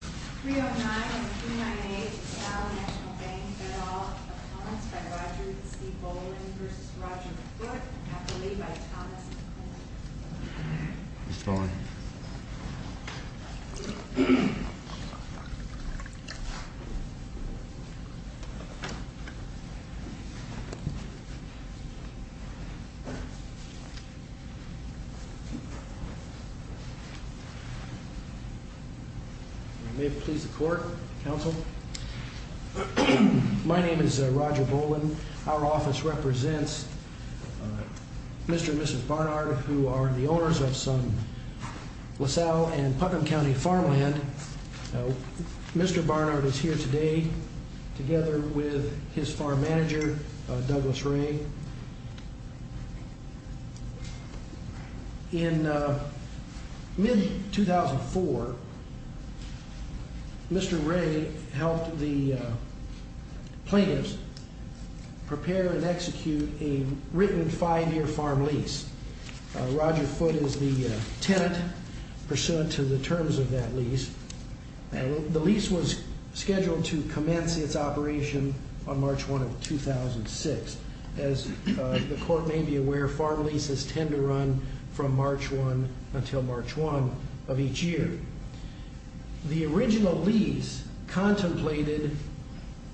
309 and 398, Cal National Bank-Goodall. Opposed by Roger C Boland versus Roger Foote. Have the lead by Thomas McCormick. Mr. Boland. May it please the court, counsel. My name is Roger Boland. Our office represents Mr. and Mrs. Barnard, who are the owners of some LaSalle and Putnam County farmland. Mr. Barnard is here today together with his farm manager, Douglas Ray. In mid-2004, Mr. Ray helped the plaintiffs prepare and execute a written five-year farm lease. Roger Foote is the tenant pursuant to the terms of that lease. The lease was scheduled to commence its operation on March 1 of 2006. As the court may be aware, farm leases tend to run from March 1 until March 1 of each year. The original lease contemplated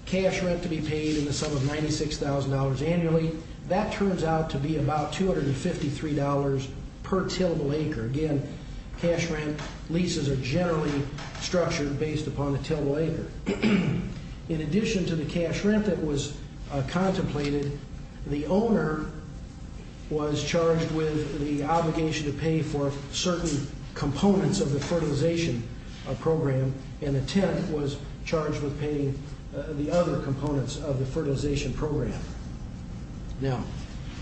cash rent to be paid in the sum of $96,000 annually. That turns out to be about $253 per tillable acre. Again, cash rent leases are generally structured based upon the tillable acre. In addition to the cash rent that was contemplated, the owner was charged with the obligation to pay for certain components of the fertilization program, and the tenant was charged with paying the other components of the fertilization program. Now,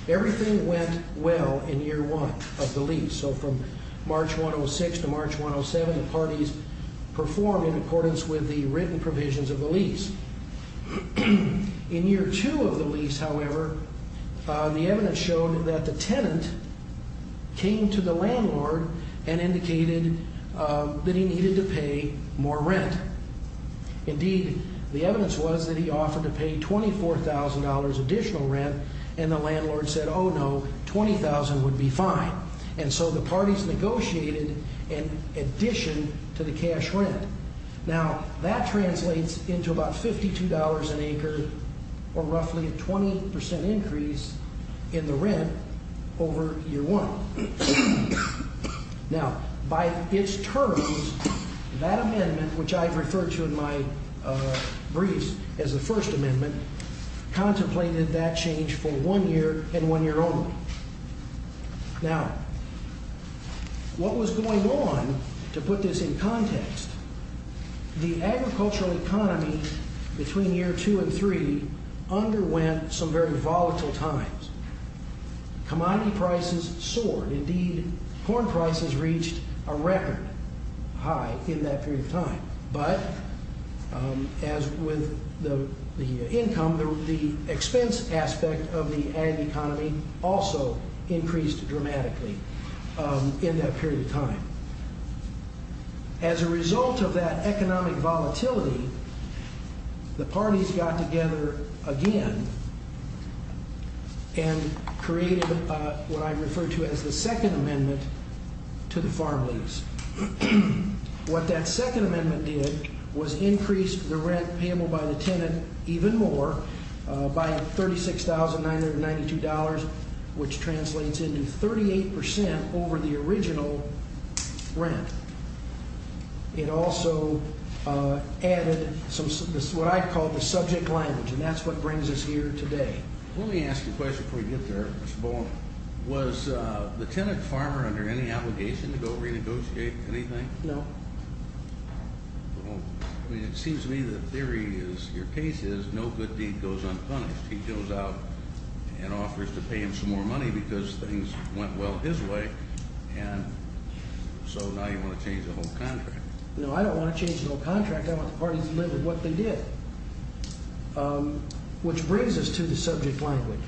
everything went well in year one of the lease. So from March 1 of 2006 to March 1 of 2007, the parties performed in accordance with the written provisions of the lease. In year two of the lease, however, the evidence showed that the tenant came to the landlord and indicated that he needed to pay more rent. Indeed, the evidence was that he offered to pay $24,000 additional rent, and the landlord said, oh, no, $20,000 would be fine. And so the parties negotiated in addition to the cash rent. Now, that translates into about $52 an acre, or roughly a 20% increase in the rent over year one. Now, by its terms, that amendment, which I've referred to in my briefs as the First Amendment, contemplated that change for one year and one year only. Now, what was going on, to put this in context, the agricultural economy between year two and three underwent some very volatile times. Commodity prices soared. Indeed, corn prices reached a record high in that period of time. But as with the income, the expense aspect of the ag economy also increased dramatically in that period of time. As a result of that economic volatility, the parties got together again and created what I refer to as the Second Amendment to the farm lease. What that Second Amendment did was increase the rent payable by the tenant even more by $36,992, which translates into 38% over the original rent. It also added what I call the subject language. And that's what brings us here today. Let me ask you a question before we get there, Mr. Boland. Was the tenant farmer under any obligation to go renegotiate anything? No. Well, I mean, it seems to me that the theory is, your case is, no good deed goes unpunished. He goes out and offers to pay him some more money because things went well his way. And so now you want to change the whole contract. No, I don't want to change the whole contract. I want the parties to live with what they did. Which brings us to the subject language.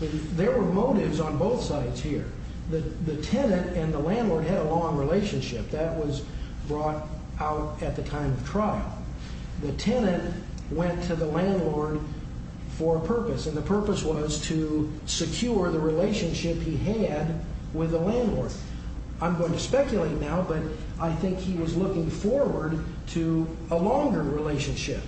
There were motives on both sides here. The tenant and the landlord had a long relationship. That was brought out at the time of trial. The tenant went to the landlord for a purpose. And the purpose was to secure the relationship he had with the landlord. I'm going to speculate now, but I think he was looking forward to a longer relationship.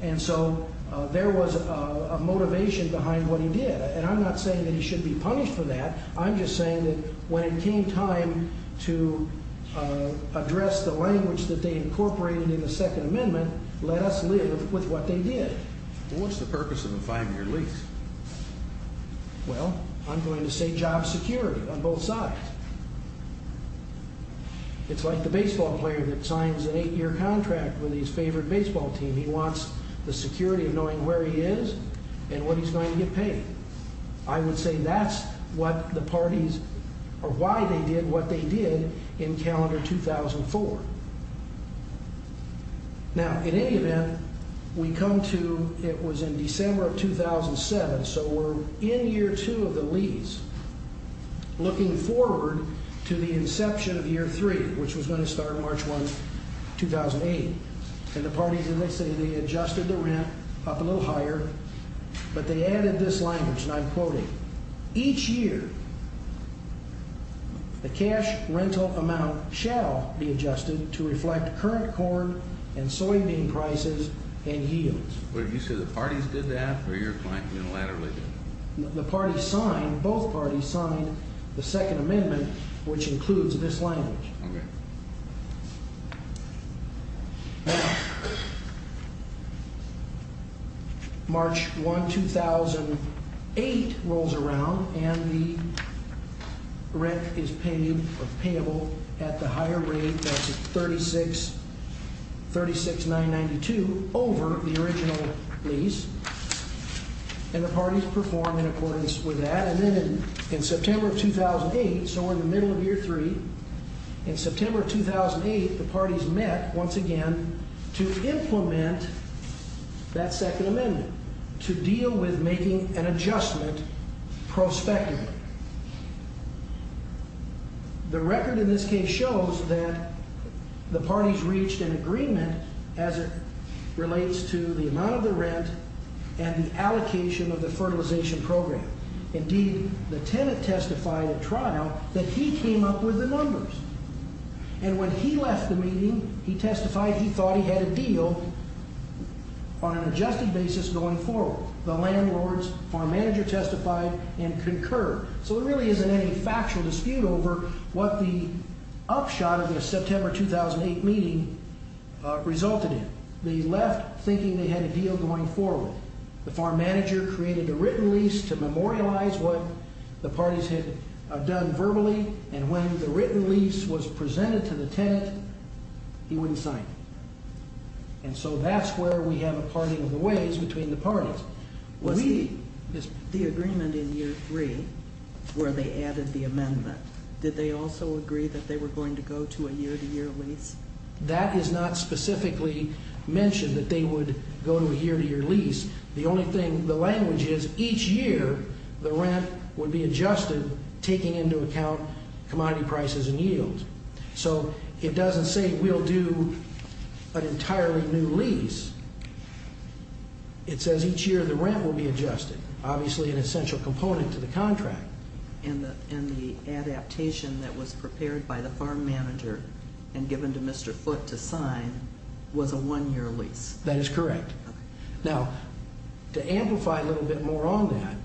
And so there was a motivation behind what he did. And I'm not saying that he should be punished for that. I'm just saying that when it came time to address the language that they incorporated in the Second Amendment, let us live with what they did. What's the purpose of a five-year lease? Well, I'm going to say job security on both sides. It's like the baseball player that signs an eight-year contract with his favorite baseball team. He wants the security of knowing where he is and what he's going to get paid. I would say that's what the parties, or why they did what they did in calendar 2004. Now, in any event, we come to it was in December of 2007. So we're in year two of the lease, looking forward to the inception of year three, which was going to start March 1, 2008. And the parties, as I say, they adjusted the rent up a little higher. But they added this language, and I'm quoting. Each year, the cash rental amount shall be adjusted to reflect current corn and soybean prices and yields. What did you say? The parties did that, or your client unilaterally did it? The parties signed. Both parties signed the Second Amendment, which includes this language. OK. March 1, 2008 rolls around, and the rent is paid, or payable, at the higher rate. That's at $36,992 over the original lease. And the parties perform in accordance with that. And then in September of 2008, so we're in the middle of year three, in September 2008, the parties met once again to implement that Second Amendment, to deal with making an adjustment prospectively. The record in this case shows that the parties reached an agreement as it relates to the amount of the rent and the allocation of the fertilization program. Indeed, the tenant testified at trial that he came up with the numbers. And when he left the meeting, he testified he thought he had a deal on an adjusted basis going forward. The landlord's farm manager testified and concurred. So there really isn't any factual dispute over what the upshot of the September 2008 meeting resulted in. They left thinking they had a deal going forward. The farm manager created a written lease to memorialize what the parties had done verbally. And when the written lease was presented to the tenant, he wouldn't sign it. And so that's where we have a parting of the ways between the parties. The agreement in year three, where they added the amendment, did they also agree that they were going to go to a year-to-year lease? That is not specifically mentioned that they would go to a year-to-year lease. The only thing, the language is each year, the rent would be adjusted, taking into account commodity prices and yields. So it doesn't say we'll do an entirely new lease. It says each year the rent will be adjusted, obviously an essential component to the contract. And the adaptation that was prepared by the farm manager and given to Mr. Foote to sign was a one-year lease. That is correct. Now, to amplify a little bit more on that,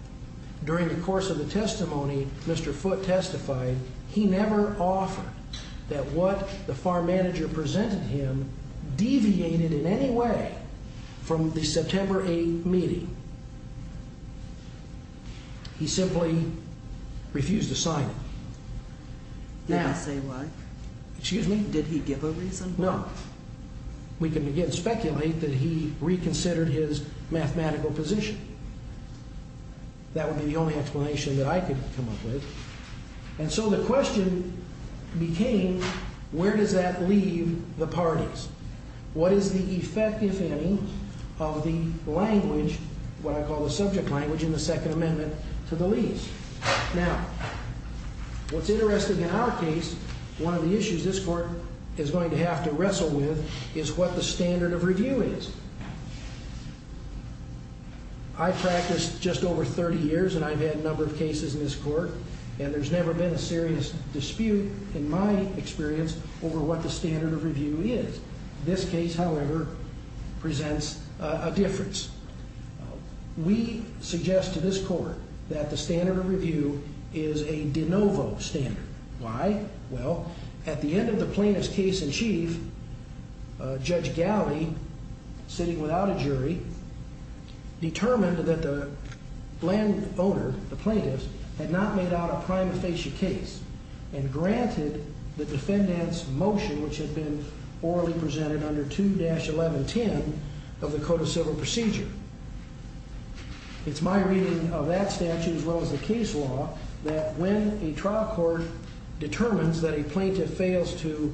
during the course of the testimony, Mr. Foote testified he never offered that what the farm manager presented him deviated in any way from the September 8 meeting. He simply refused to sign it. Did he say why? Excuse me? Did he give a reason? No. We can, again, speculate that he reconsidered his mathematical position. That would be the only explanation that I could come up with. And so the question became, where does that leave the parties? What is the effect, if any, of the language, what I call the subject language in the Second Amendment, to the lease? Now, what's interesting in our case, one of the issues this court is going to have to wrestle with is what the standard of review is. I practiced just over 30 years, and I've had a number of cases in this court. And there's never been a serious dispute, in my experience, over what the standard of review is. This case, however, presents a difference. We suggest to this court that the standard of review is a de novo standard. Why? Well, at the end of the plaintiff's case in chief, Judge Gowdy, sitting without a jury, determined that the landowner, the plaintiff, had not made out a prime facie case and granted the defendant's motion, which had been orally presented under 2-1110 of the Code of Civil Procedure. It's my reading of that statute, as well as the case law, that when a trial court determines that a plaintiff fails to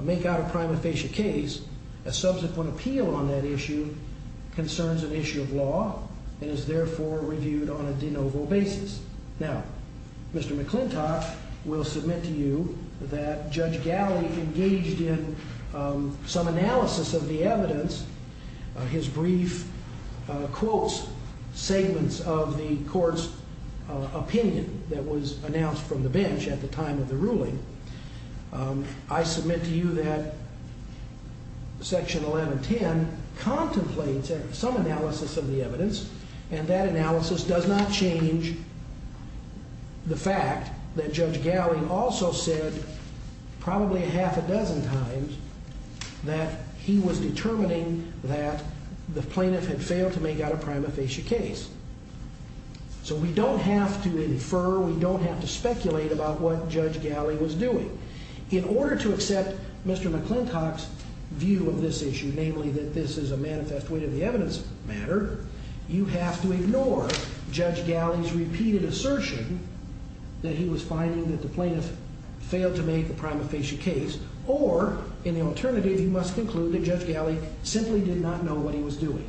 make out a prime facie case, a subsequent appeal on that issue concerns an issue of law and is therefore reviewed on a de novo basis. Now, Mr. McClintock will submit to you that Judge Gowdy engaged in some analysis of the evidence, his brief quotes, segments of the court's opinion that was announced from the bench at the time of the ruling. I submit to you that Section 1110 contemplates some analysis of the evidence, and that analysis does not change the fact that Judge Gowdy also said probably a half a dozen times that he was determining that the plaintiff had failed to make out a prime facie case. So we don't have to infer, we don't have to speculate about what Judge Gowdy was doing. In order to accept Mr. McClintock's view of this issue, namely that this is a manifest weight of the evidence matter, you have to ignore Judge Gowdy's repeated assertion that he was finding that the plaintiff failed to make a prime facie case. Or, in the alternative, you must conclude that Judge Gowdy simply did not know what he was doing.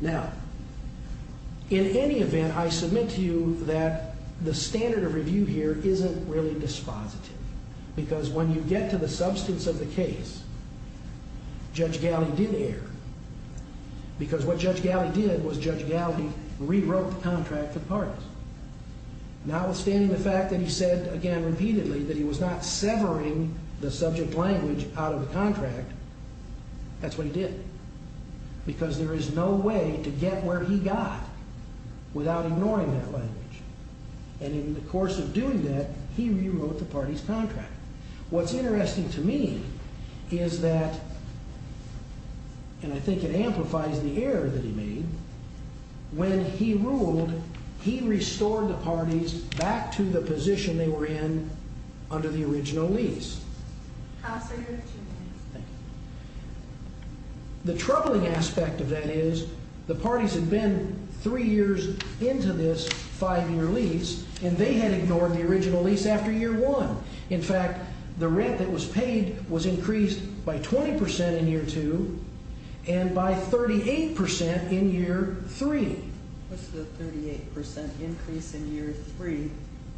Now, in any event, I submit to you that the standard of review here isn't really dispositive. Because when you get to the substance of the case, Judge Gowdy did err. Because what Judge Gowdy did was Judge Gowdy rewrote the contract for the parties. Notwithstanding the fact that he said, again, repeatedly, that he was not severing the subject language out of the contract, that's what he did. Because there is no way to get where he got without ignoring that language. And in the course of doing that, he rewrote the party's contract. What's interesting to me is that, and I think it amplifies the error that he made, when he ruled, he restored the parties back to the position they were in under the original lease. The troubling aspect of that is the parties had been three years into this five-year lease, and they had ignored the original lease after year one. In fact, the rent that was paid was increased by 20% in year two, and by 38% in year three. What's the 38% increase in year three,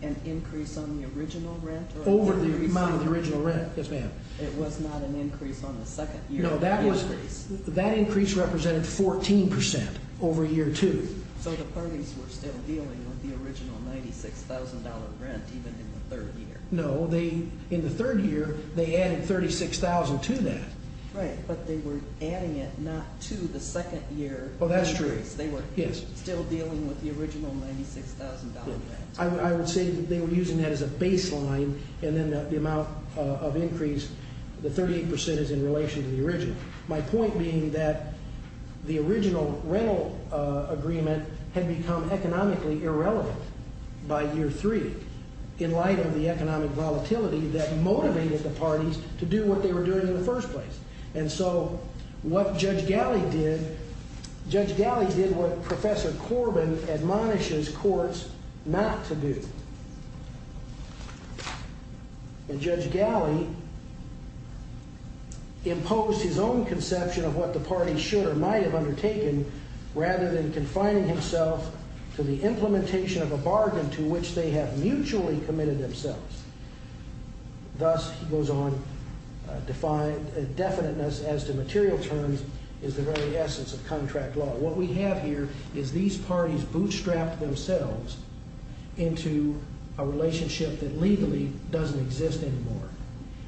an increase on the original rent? Over the amount of the original rent, yes ma'am. It was not an increase on the second year of the lease. That increase represented 14% over year two. So the parties were still dealing with the original $96,000 rent, even in the third year. No, in the third year, they added $36,000 to that. But they were adding it not to the second year increase. They were still dealing with the original $96,000 rent. I would say that they were using that as a baseline, and then the amount of increase, the 38% is in relation to the original. My point being that the original rental agreement had become economically irrelevant by year three, in light of the economic volatility that motivated the parties to do what they were doing in the first place. And so what Judge Galley did, Judge Galley did what Professor Corbin admonishes courts not to do. And Judge Galley imposed his own conception of what the party should or might have undertaken, rather than confining himself to the implementation of a bargain to which they have mutually committed themselves. Thus, he goes on to define, definiteness as to material terms is the very essence of contract law. What we have here is these parties bootstrapped themselves into a relationship that legally doesn't exist anymore.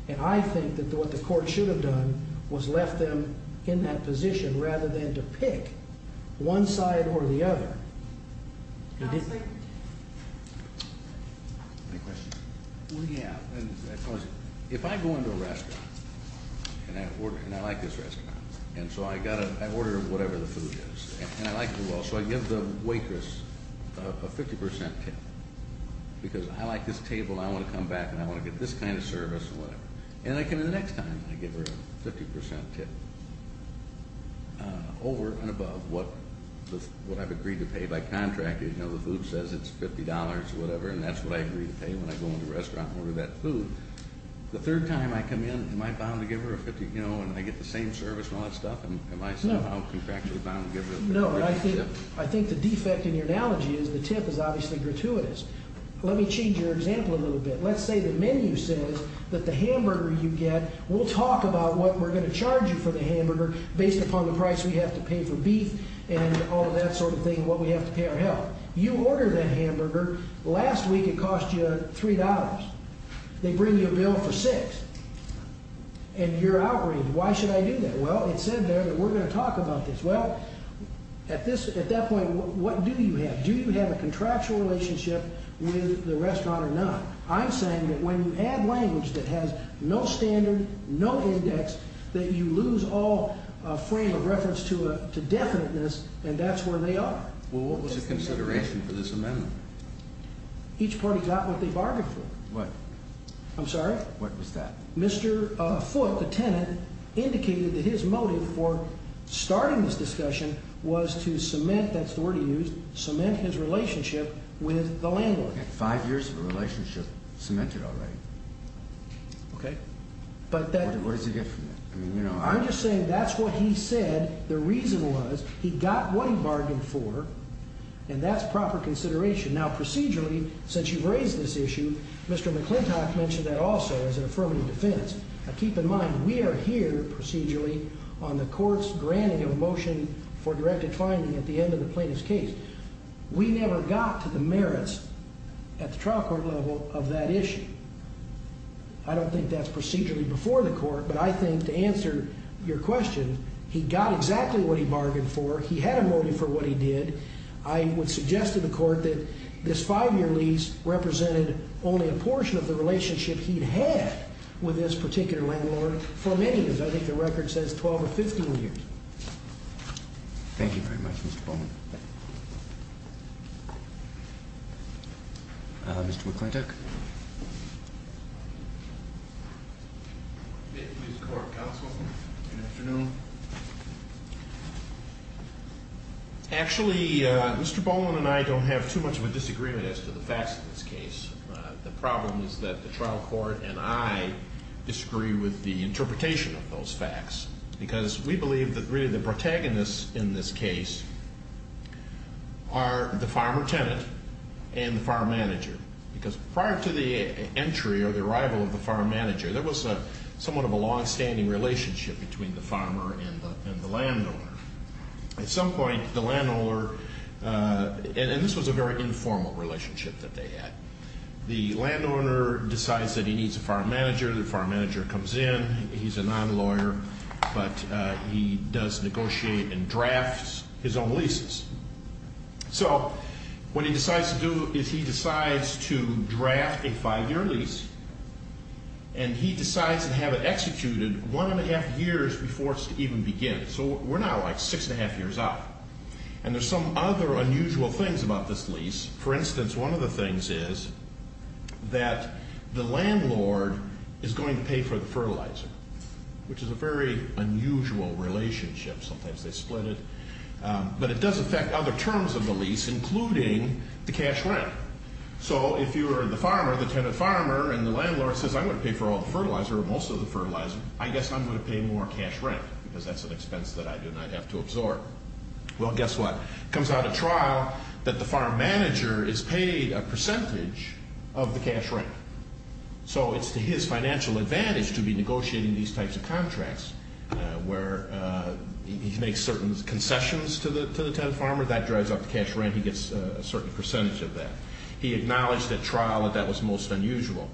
And I think that what the court should have done was left them in that position, rather than to pick one side or the other. He didn't. Thank you. Any questions? Well, yeah. If I go into a restaurant and I like this restaurant, and so I order whatever the food is, and I like it as well, so I give the waitress a 50% tip, because I like this table, and I want to come back, and I want to get this kind of service and whatever. And the next time I give her a 50% tip, over and above what I've agreed to pay by contracting, you know, the food says it's $50 or whatever, and that's what I agree to pay when I go into a restaurant and order that food. The third time I come in, am I bound to give her a 50, you know, and I get the same service and all that stuff? And am I somehow contractually bound to give her a 50% tip? I think the defect in your analogy is the tip is obviously gratuitous. Let me change your example a little bit. Let's say the menu says that the hamburger you get, we'll talk about what we're gonna charge you for the hamburger, based upon the price we have to pay for beef, and all of that sort of thing, and what we have to pay our health. You order that hamburger, last week it cost you $3. They bring you a bill for six. And you're outraged. Why should I do that? Well, it said there that we're gonna talk about this. Well, at that point, what do you have? Do you have a contractual relationship with the restaurant or not? I'm saying that when you add language that has no standard, no index, that you lose all frame of reference to definiteness, and that's where they are. Well, what was the consideration for this amendment? Each party got what they bargained for. What? I'm sorry? What was that? Mr. Foote, the tenant, indicated that his motive for starting this discussion was to cement, that's the word he used, cement his relationship with the landlord. Five years of a relationship cemented already. Okay. But that- What does he get from that? I'm just saying that's what he said. The reason was he got what he bargained for, and that's proper consideration. Now, procedurally, since you've raised this issue, Mr. McClintock mentioned that also as an affirmative defense. Now, keep in mind, we are here procedurally on the court's granting of a motion for directed finding at the end of the plaintiff's case. We never got to the merits at the trial court level of that issue. I don't think that's procedurally before the court, but I think to answer your question, he got exactly what he bargained for. He had a motive for what he did. I would suggest to the court that this five-year lease represented only a portion of the relationship he'd had with this particular landlord for many years. I think the record says 12 or 15 years. Thank you very much, Mr. Bowman. Mr. McClintock. May it please the court, counsel, good afternoon. Actually, Mr. Bowman and I don't have too much of a disagreement as to the facts of this case. The problem is that the trial court and I disagree with the interpretation of those facts, because we believe that really the protagonists in this case because prior to the trial, prior to the entry or the arrival of the farm manager, there was somewhat of a longstanding relationship between the farmer and the landowner. At some point, the landowner, and this was a very informal relationship that they had. The landowner decides that he needs a farm manager. The farm manager comes in. He's a non-lawyer, but he does negotiate and drafts his own leases. So what he decides to do is he decides to draft a five-year lease, and he decides to have it executed one and a half years before it's even begin. So we're now like six and a half years out, and there's some other unusual things about this lease. For instance, one of the things is that the landlord is going to pay for the fertilizer, which is a very unusual relationship. Sometimes they split it, but it does affect other terms of the lease, including the cash rent. So if you are the farmer, the tenant farmer, and the landlord says, I'm gonna pay for all the fertilizer or most of the fertilizer, I guess I'm gonna pay more cash rent because that's an expense that I do not have to absorb. Well, guess what? Comes out of trial that the farm manager is paid a percentage of the cash rent. So it's to his financial advantage to be negotiating these types of contracts where he makes certain concessions to the tenant farmer, that drives up the cash rent, he gets a certain percentage of that. He acknowledged at trial that that was most unusual.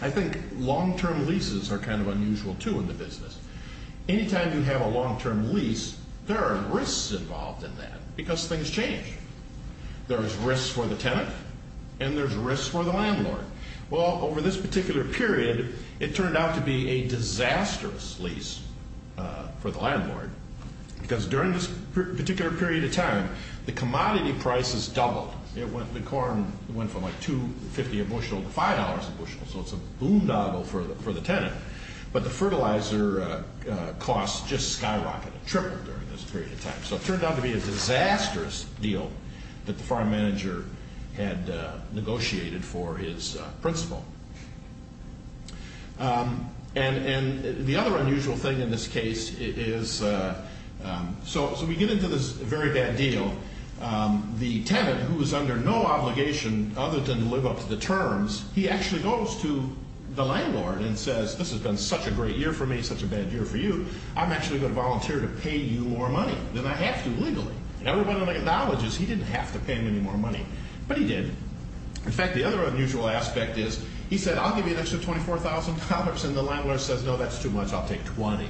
I think long-term leases are kind of unusual too in the business. Anytime you have a long-term lease, there are risks involved in that because things change. There's risks for the tenant and there's risks for the landlord. Well, over this particular period, it turned out to be a disastrous lease for the landlord because during this particular period of time, the commodity prices doubled. The corn went from like $2.50 a bushel to $5 a bushel. So it's a boondoggle for the tenant, but the fertilizer costs just skyrocketed, tripled during this period of time. So it turned out to be a disastrous deal that the farm manager had negotiated for his principal. And the other unusual thing in this case is, so we get into this very bad deal. The tenant who was under no obligation other than to live up to the terms, he actually goes to the landlord and says, this has been such a great year for me, such a bad year for you. I'm actually going to volunteer to pay you more money than I have to legally. And everybody acknowledges he didn't have to pay him any more money, but he did. In fact, the other unusual aspect is he said, I'll give you an extra $24,000. And the landlord says, no, that's too much. I'll take 20.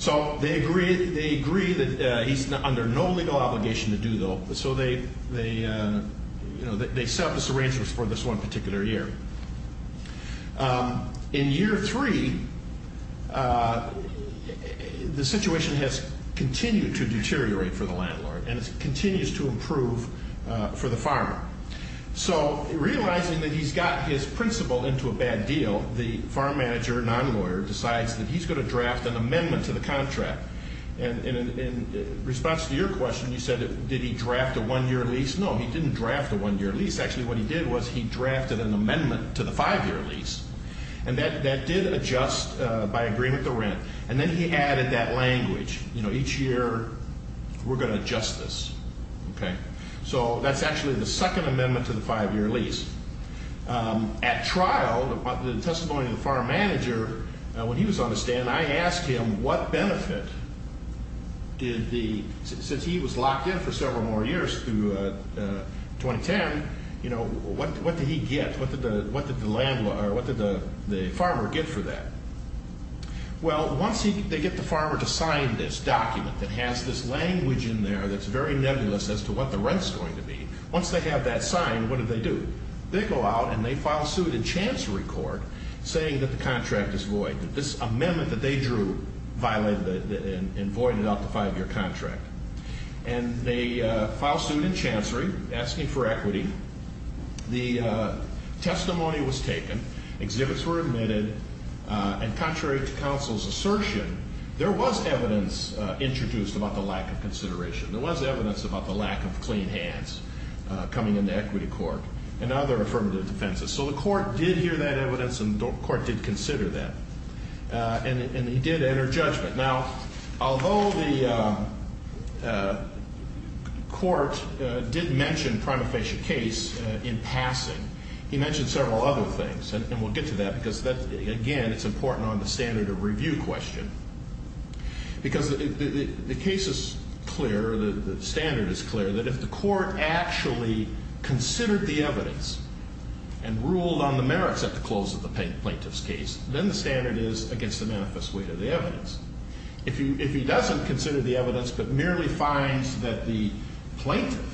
So they agree that he's under no legal obligation to do though. So they set up a syringe for this one particular year. In year three, the situation has continued to deteriorate for the landlord and it continues to improve for the farmer. So realizing that he's got his principal into a bad deal, the farm manager, non-lawyer decides that he's going to draft an amendment to the contract. And in response to your question, you said, did he draft a one-year lease? No, he didn't draft a one-year lease. Actually, what he did was he drafted an amendment to the five-year lease. And that did adjust by agreement to rent. And then he added that language, each year we're going to adjust this, okay? So that's actually the second amendment to the five-year lease. At trial, the testimony of the farm manager, when he was on the stand, I asked him, what benefit did the, since he was locked in for several more years through 2010, you know, what did he get? What did the landlord, or what did the farmer get for that? Well, once they get the farmer to sign this document that has this language in there that's very nebulous as to what the rent's going to be, once they have that signed, what do they do? They go out and they file suit in chancery court saying that the contract is void, that this amendment that they drew violated and voided out the five-year contract. And they file suit in chancery, asking for equity. The testimony was taken, exhibits were admitted, and contrary to counsel's assertion, there was evidence introduced about the lack of consideration. There was evidence about the lack of clean hands coming into equity court and other affirmative defenses. So the court did hear that evidence and the court did consider that. And he did enter judgment. Now, although the court did mention prima facie case in passing, he mentioned several other things. And we'll get to that because that, again, it's important on the standard of review question. Because the case is clear, the standard is clear, that if the court actually considered the evidence and ruled on the merits at the close of the plaintiff's case, then the standard is against the manifest weight of the evidence. If he doesn't consider the evidence, but merely finds that the plaintiff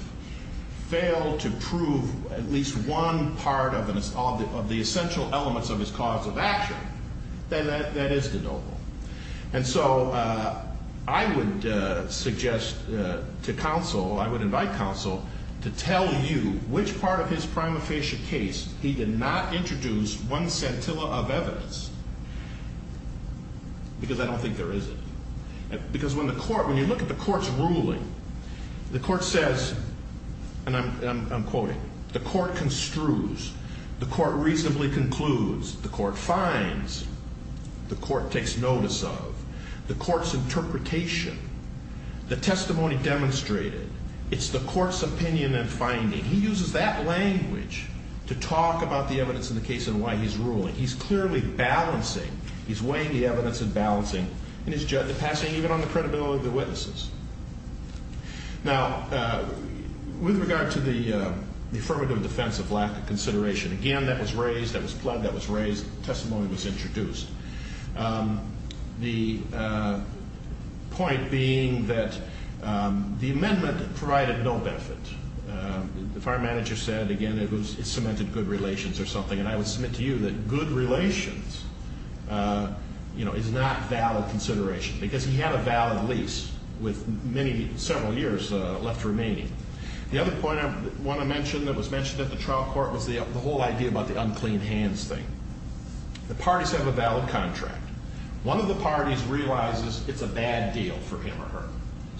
failed to prove at least one part of the essential elements of his cause of action, then that is de novo. And so I would suggest to counsel, I would invite counsel to tell you which part of his prima facie case he did not introduce one scintilla of evidence. Because I don't think there is. Because when the court, when you look at the court's ruling, the court says, and I'm quoting, the court construes, the court reasonably concludes, the court finds, the court takes notice of, the court's interpretation, the testimony demonstrated. It's the court's opinion and finding. He uses that language to talk about the evidence in the case and why he's ruling. He's clearly balancing, he's weighing the evidence and balancing in his judgment, passing even on the credibility of the witnesses. Now, with regard to the affirmative defense of lack of consideration, again, that was raised, that was plugged, that was raised, testimony was introduced. The point being that the amendment provided no benefit. The fire manager said, again, it cemented good relations or something, and I would submit to you that good relations is not valid consideration because he had a valid lease with many, several years left remaining. The other point I want to mention that was mentioned at the trial court was the whole idea about the unclean hands thing. The parties have a valid contract. One of the parties realizes it's a bad deal for him or her.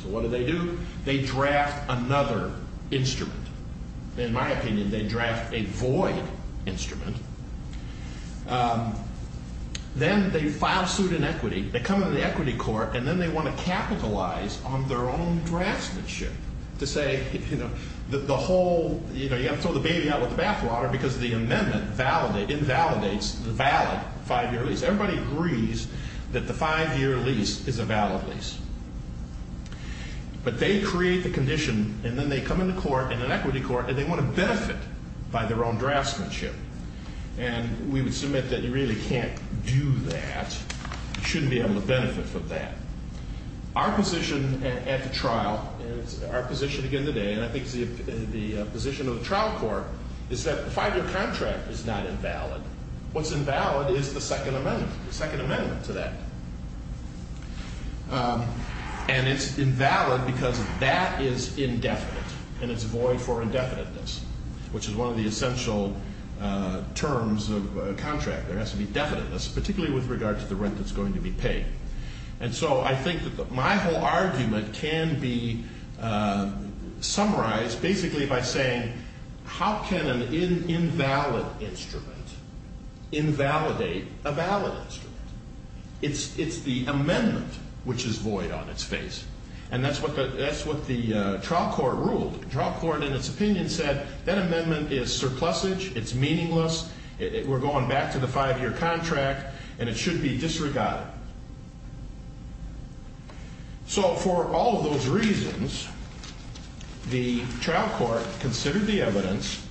So what do they do? They draft another instrument. In my opinion, they draft a void instrument. Then they file suit in equity. They come into the equity court, and then they want to capitalize on their own draftsmanship to say, you know, the whole, you know, you have to throw the baby out with the bathwater because the amendment invalidates the valid five-year lease. Everybody agrees that the five-year lease is a valid lease. But they create the condition, and then they come into court, in an equity court, and they want to benefit by their own draftsmanship. And we would submit that you really can't do that. You shouldn't be able to benefit from that. Our position at the trial, our position again today, and I think it's the position of the trial court, is that the five-year contract is not invalid. What's invalid is the second amendment, the second amendment to that. And it's invalid because that is indefinite, and it's void for indefiniteness, which is one of the essential terms of a contract. There has to be definiteness, particularly with regard to the rent that's going to be paid. And so I think that my whole argument can be summarized basically by saying, how can an invalid instrument invalidate a valid instrument? It's the amendment which is void on its face. And that's what the trial court ruled. The trial court, in its opinion, said, that amendment is surplusage, it's meaningless, we're going back to the five-year contract, and it should be disregarded. So for all of those reasons, the trial court considered the evidence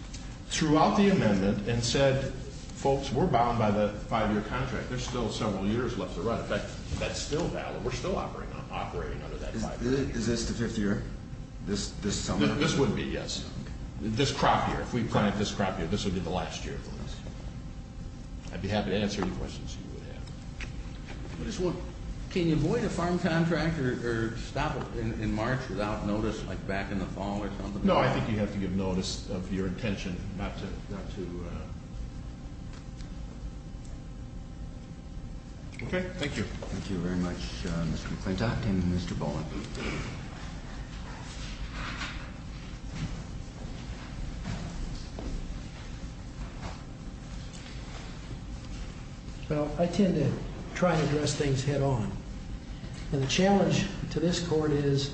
throughout the amendment and said, folks, we're bound by the five-year contract. There's still several years left to run. In fact, that's still valid. We're still operating under that five-year contract. Is this the fifth year? This summer? No, this wouldn't be, yes. This crop year, if we plant this crop year, this would be the last year of the lease. I'd be happy to answer any questions you would have. I just want, can you void a farm contract or stop it in March without notice, like back in the fall or something? No, I think you have to give notice of your intention, not to, not to. Okay, thank you. Thank you very much, Mr. McClintock and Mr. Boland. Well, I tend to try and address things head-on. And the challenge to this court is,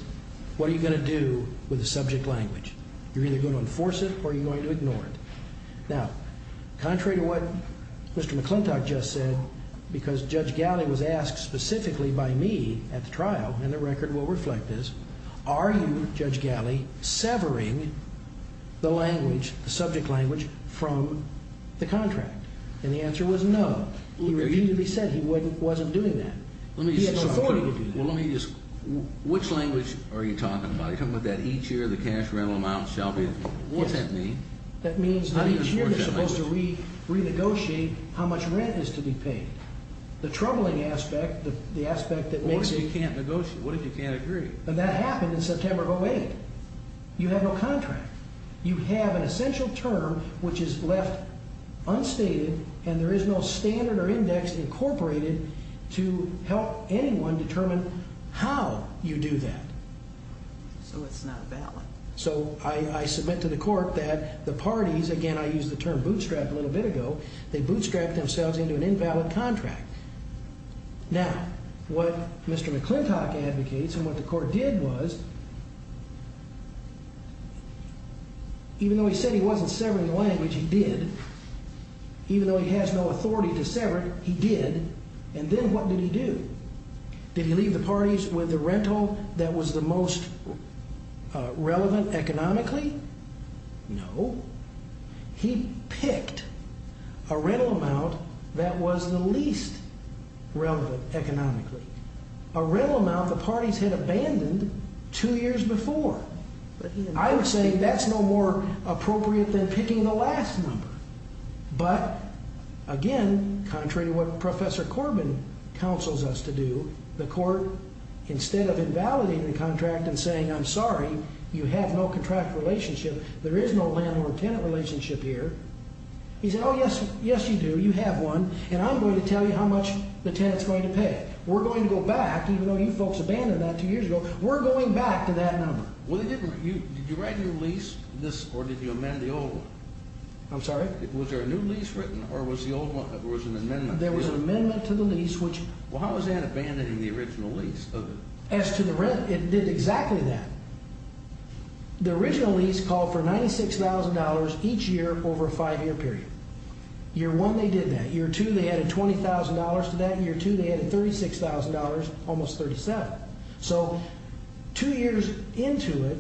what are you gonna do with the subject language? You're either gonna enforce it or you're going to ignore it. Now, contrary to what Mr. McClintock just said, because Judge Galley was asked specifically by me at the trial, and the record will reflect this, are you, Judge Galley, severing the language, the subject language, from the trial? From the contract? And the answer was no. He repeatedly said he wasn't doing that. He has no authority to do that. Which language are you talking about? Are you talking about that each year the cash rental amount shall be, what's that mean? That means that each year they're supposed to renegotiate how much rent is to be paid. The troubling aspect, the aspect that makes it. What if you can't negotiate? What if you can't agree? And that happened in September of 08. You have no contract. You have an essential term which is left unstated, and there is no standard or index incorporated to help anyone determine how you do that. So it's not valid. So I submit to the court that the parties, again, I used the term bootstrap a little bit ago, they bootstrapped themselves into an invalid contract. Now, what Mr. McClintock advocates and what the court did was, even though he said he wasn't severing the language, he did. Even though he has no authority to sever it, he did. And then what did he do? Did he leave the parties with the rental that was the most relevant economically? No. He picked a rental amount that was the least relevant economically. A rental amount the parties had abandoned two years before. I would say that's no more appropriate than picking the last number. But again, contrary to what Professor Corbin counsels us to do, the court, instead of invalidating the contract and saying, I'm sorry, you have no contract relationship, there is no landlord-tenant relationship here, he said, oh, yes, you do. You have one. And I'm going to tell you how much the tenant's going to pay. We're going to go back, even though you folks abandoned that two years ago, we're going back to that number. Well, did you write a new lease, or did you amend the old one? I'm sorry? Was there a new lease written, or was the old one, there was an amendment to the lease? There was an amendment to the lease, which Well, how was that abandoning the original lease? As to the rent, it did exactly that. The original lease called for $96,000 each year over a five-year period. Year one, they did that. Year two, they added $20,000 to that. Year two, they added $36,000, almost $37,000. So two years into it,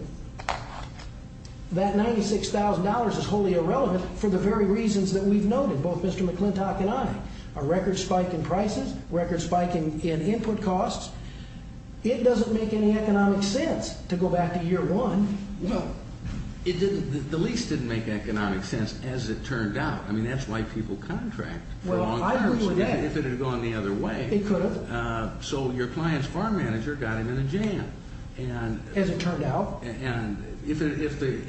that $96,000 is wholly irrelevant for the very reasons that we've noted, both Mr. McClintock and I. A record spike in prices, record spike in input costs. It doesn't make any economic sense to go back to year one. The lease didn't make economic sense, as it turned out. I mean, that's why people contract for a long time. If it had gone the other way. It could have. So your client's farm manager got him in a jam. As it turned out. And if the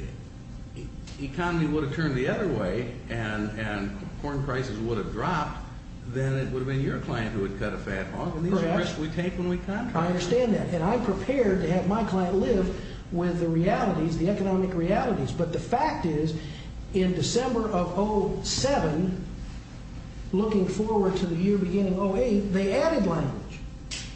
economy would have turned the other way, and corn prices would have dropped, then it would have been your client who had cut a fat hog. Correct. And these are risks we take when we contract. I understand that. And I'm prepared to have my client live with the realities, the economic realities. But the fact is, in December of 07, looking forward to the year beginning 08, they added language.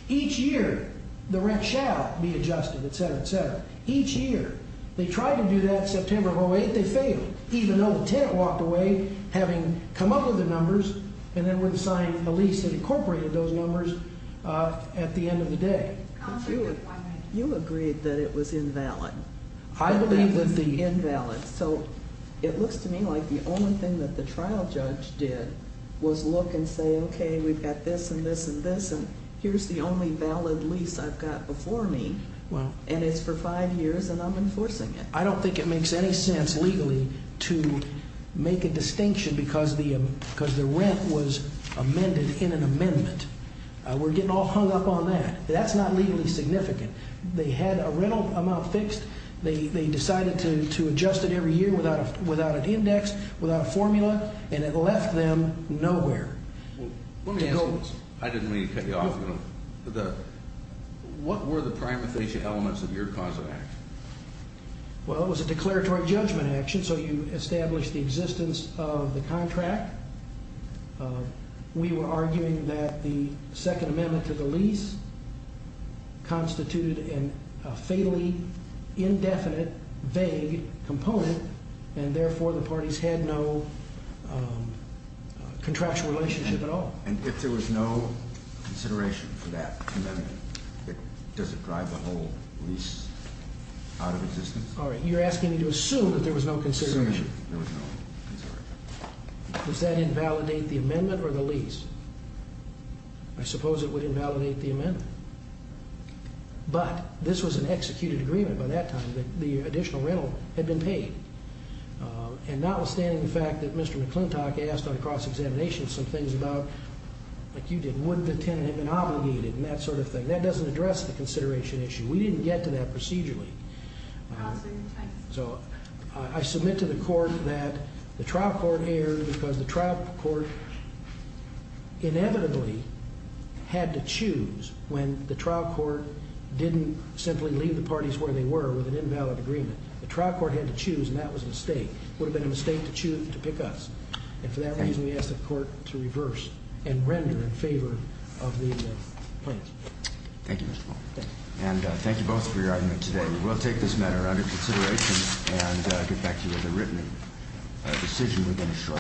Each year, the rent shall be adjusted, et cetera, et cetera. Each year. They tried to do that September of 08, they failed. Even though the tenant walked away, having come up with the numbers, and then were to sign a lease that incorporated those numbers at the end of the day. You agreed that it was invalid. I believe that the- Invalid. So it looks to me like the only thing that the trial judge did was look and say, OK, we've got this, and this, and this. And here's the only valid lease I've got before me. And it's for five years, and I'm enforcing it. I don't think it makes any sense legally to make a distinction because the rent was amended in an amendment. We're getting all hung up on that. That's not legally significant. They had a rental amount fixed. They decided to adjust it every year without an index, without a formula, and it left them nowhere. Let me ask you this. I didn't mean to cut you off. What were the primitive elements of your cause of action? Well, it was a declaratory judgment action. So you established the existence of the contract. We were arguing that the Second Amendment to the lease constituted a fatally indefinite, vague component, and therefore the parties had no contractual relationship at all. And if there was no consideration for that amendment, does it drive the whole lease out of existence? You're asking me to assume that there was no consideration. Assumption there was no consideration. Does that invalidate the amendment or the lease? I suppose it would invalidate the amendment. But this was an executed agreement by that time that the additional rental had been paid. And notwithstanding the fact that Mr. McClintock asked on a cross-examination some things about, like you did, would the tenant have been obligated and that sort of thing, that doesn't address the consideration issue. We didn't get to that procedurally. So I submit to the court that the trial court erred because the trial court inevitably had to choose when the trial court didn't simply leave the parties where they were with an invalid agreement. The trial court had to choose, and that was a mistake. It would have been a mistake to pick us. And for that reason, we asked the court to reverse and render in favor of the plans. Thank you, Mr. Fong. And thank you both for your argument today. We will take this matter under consideration and get back to you with a written decision within a short time.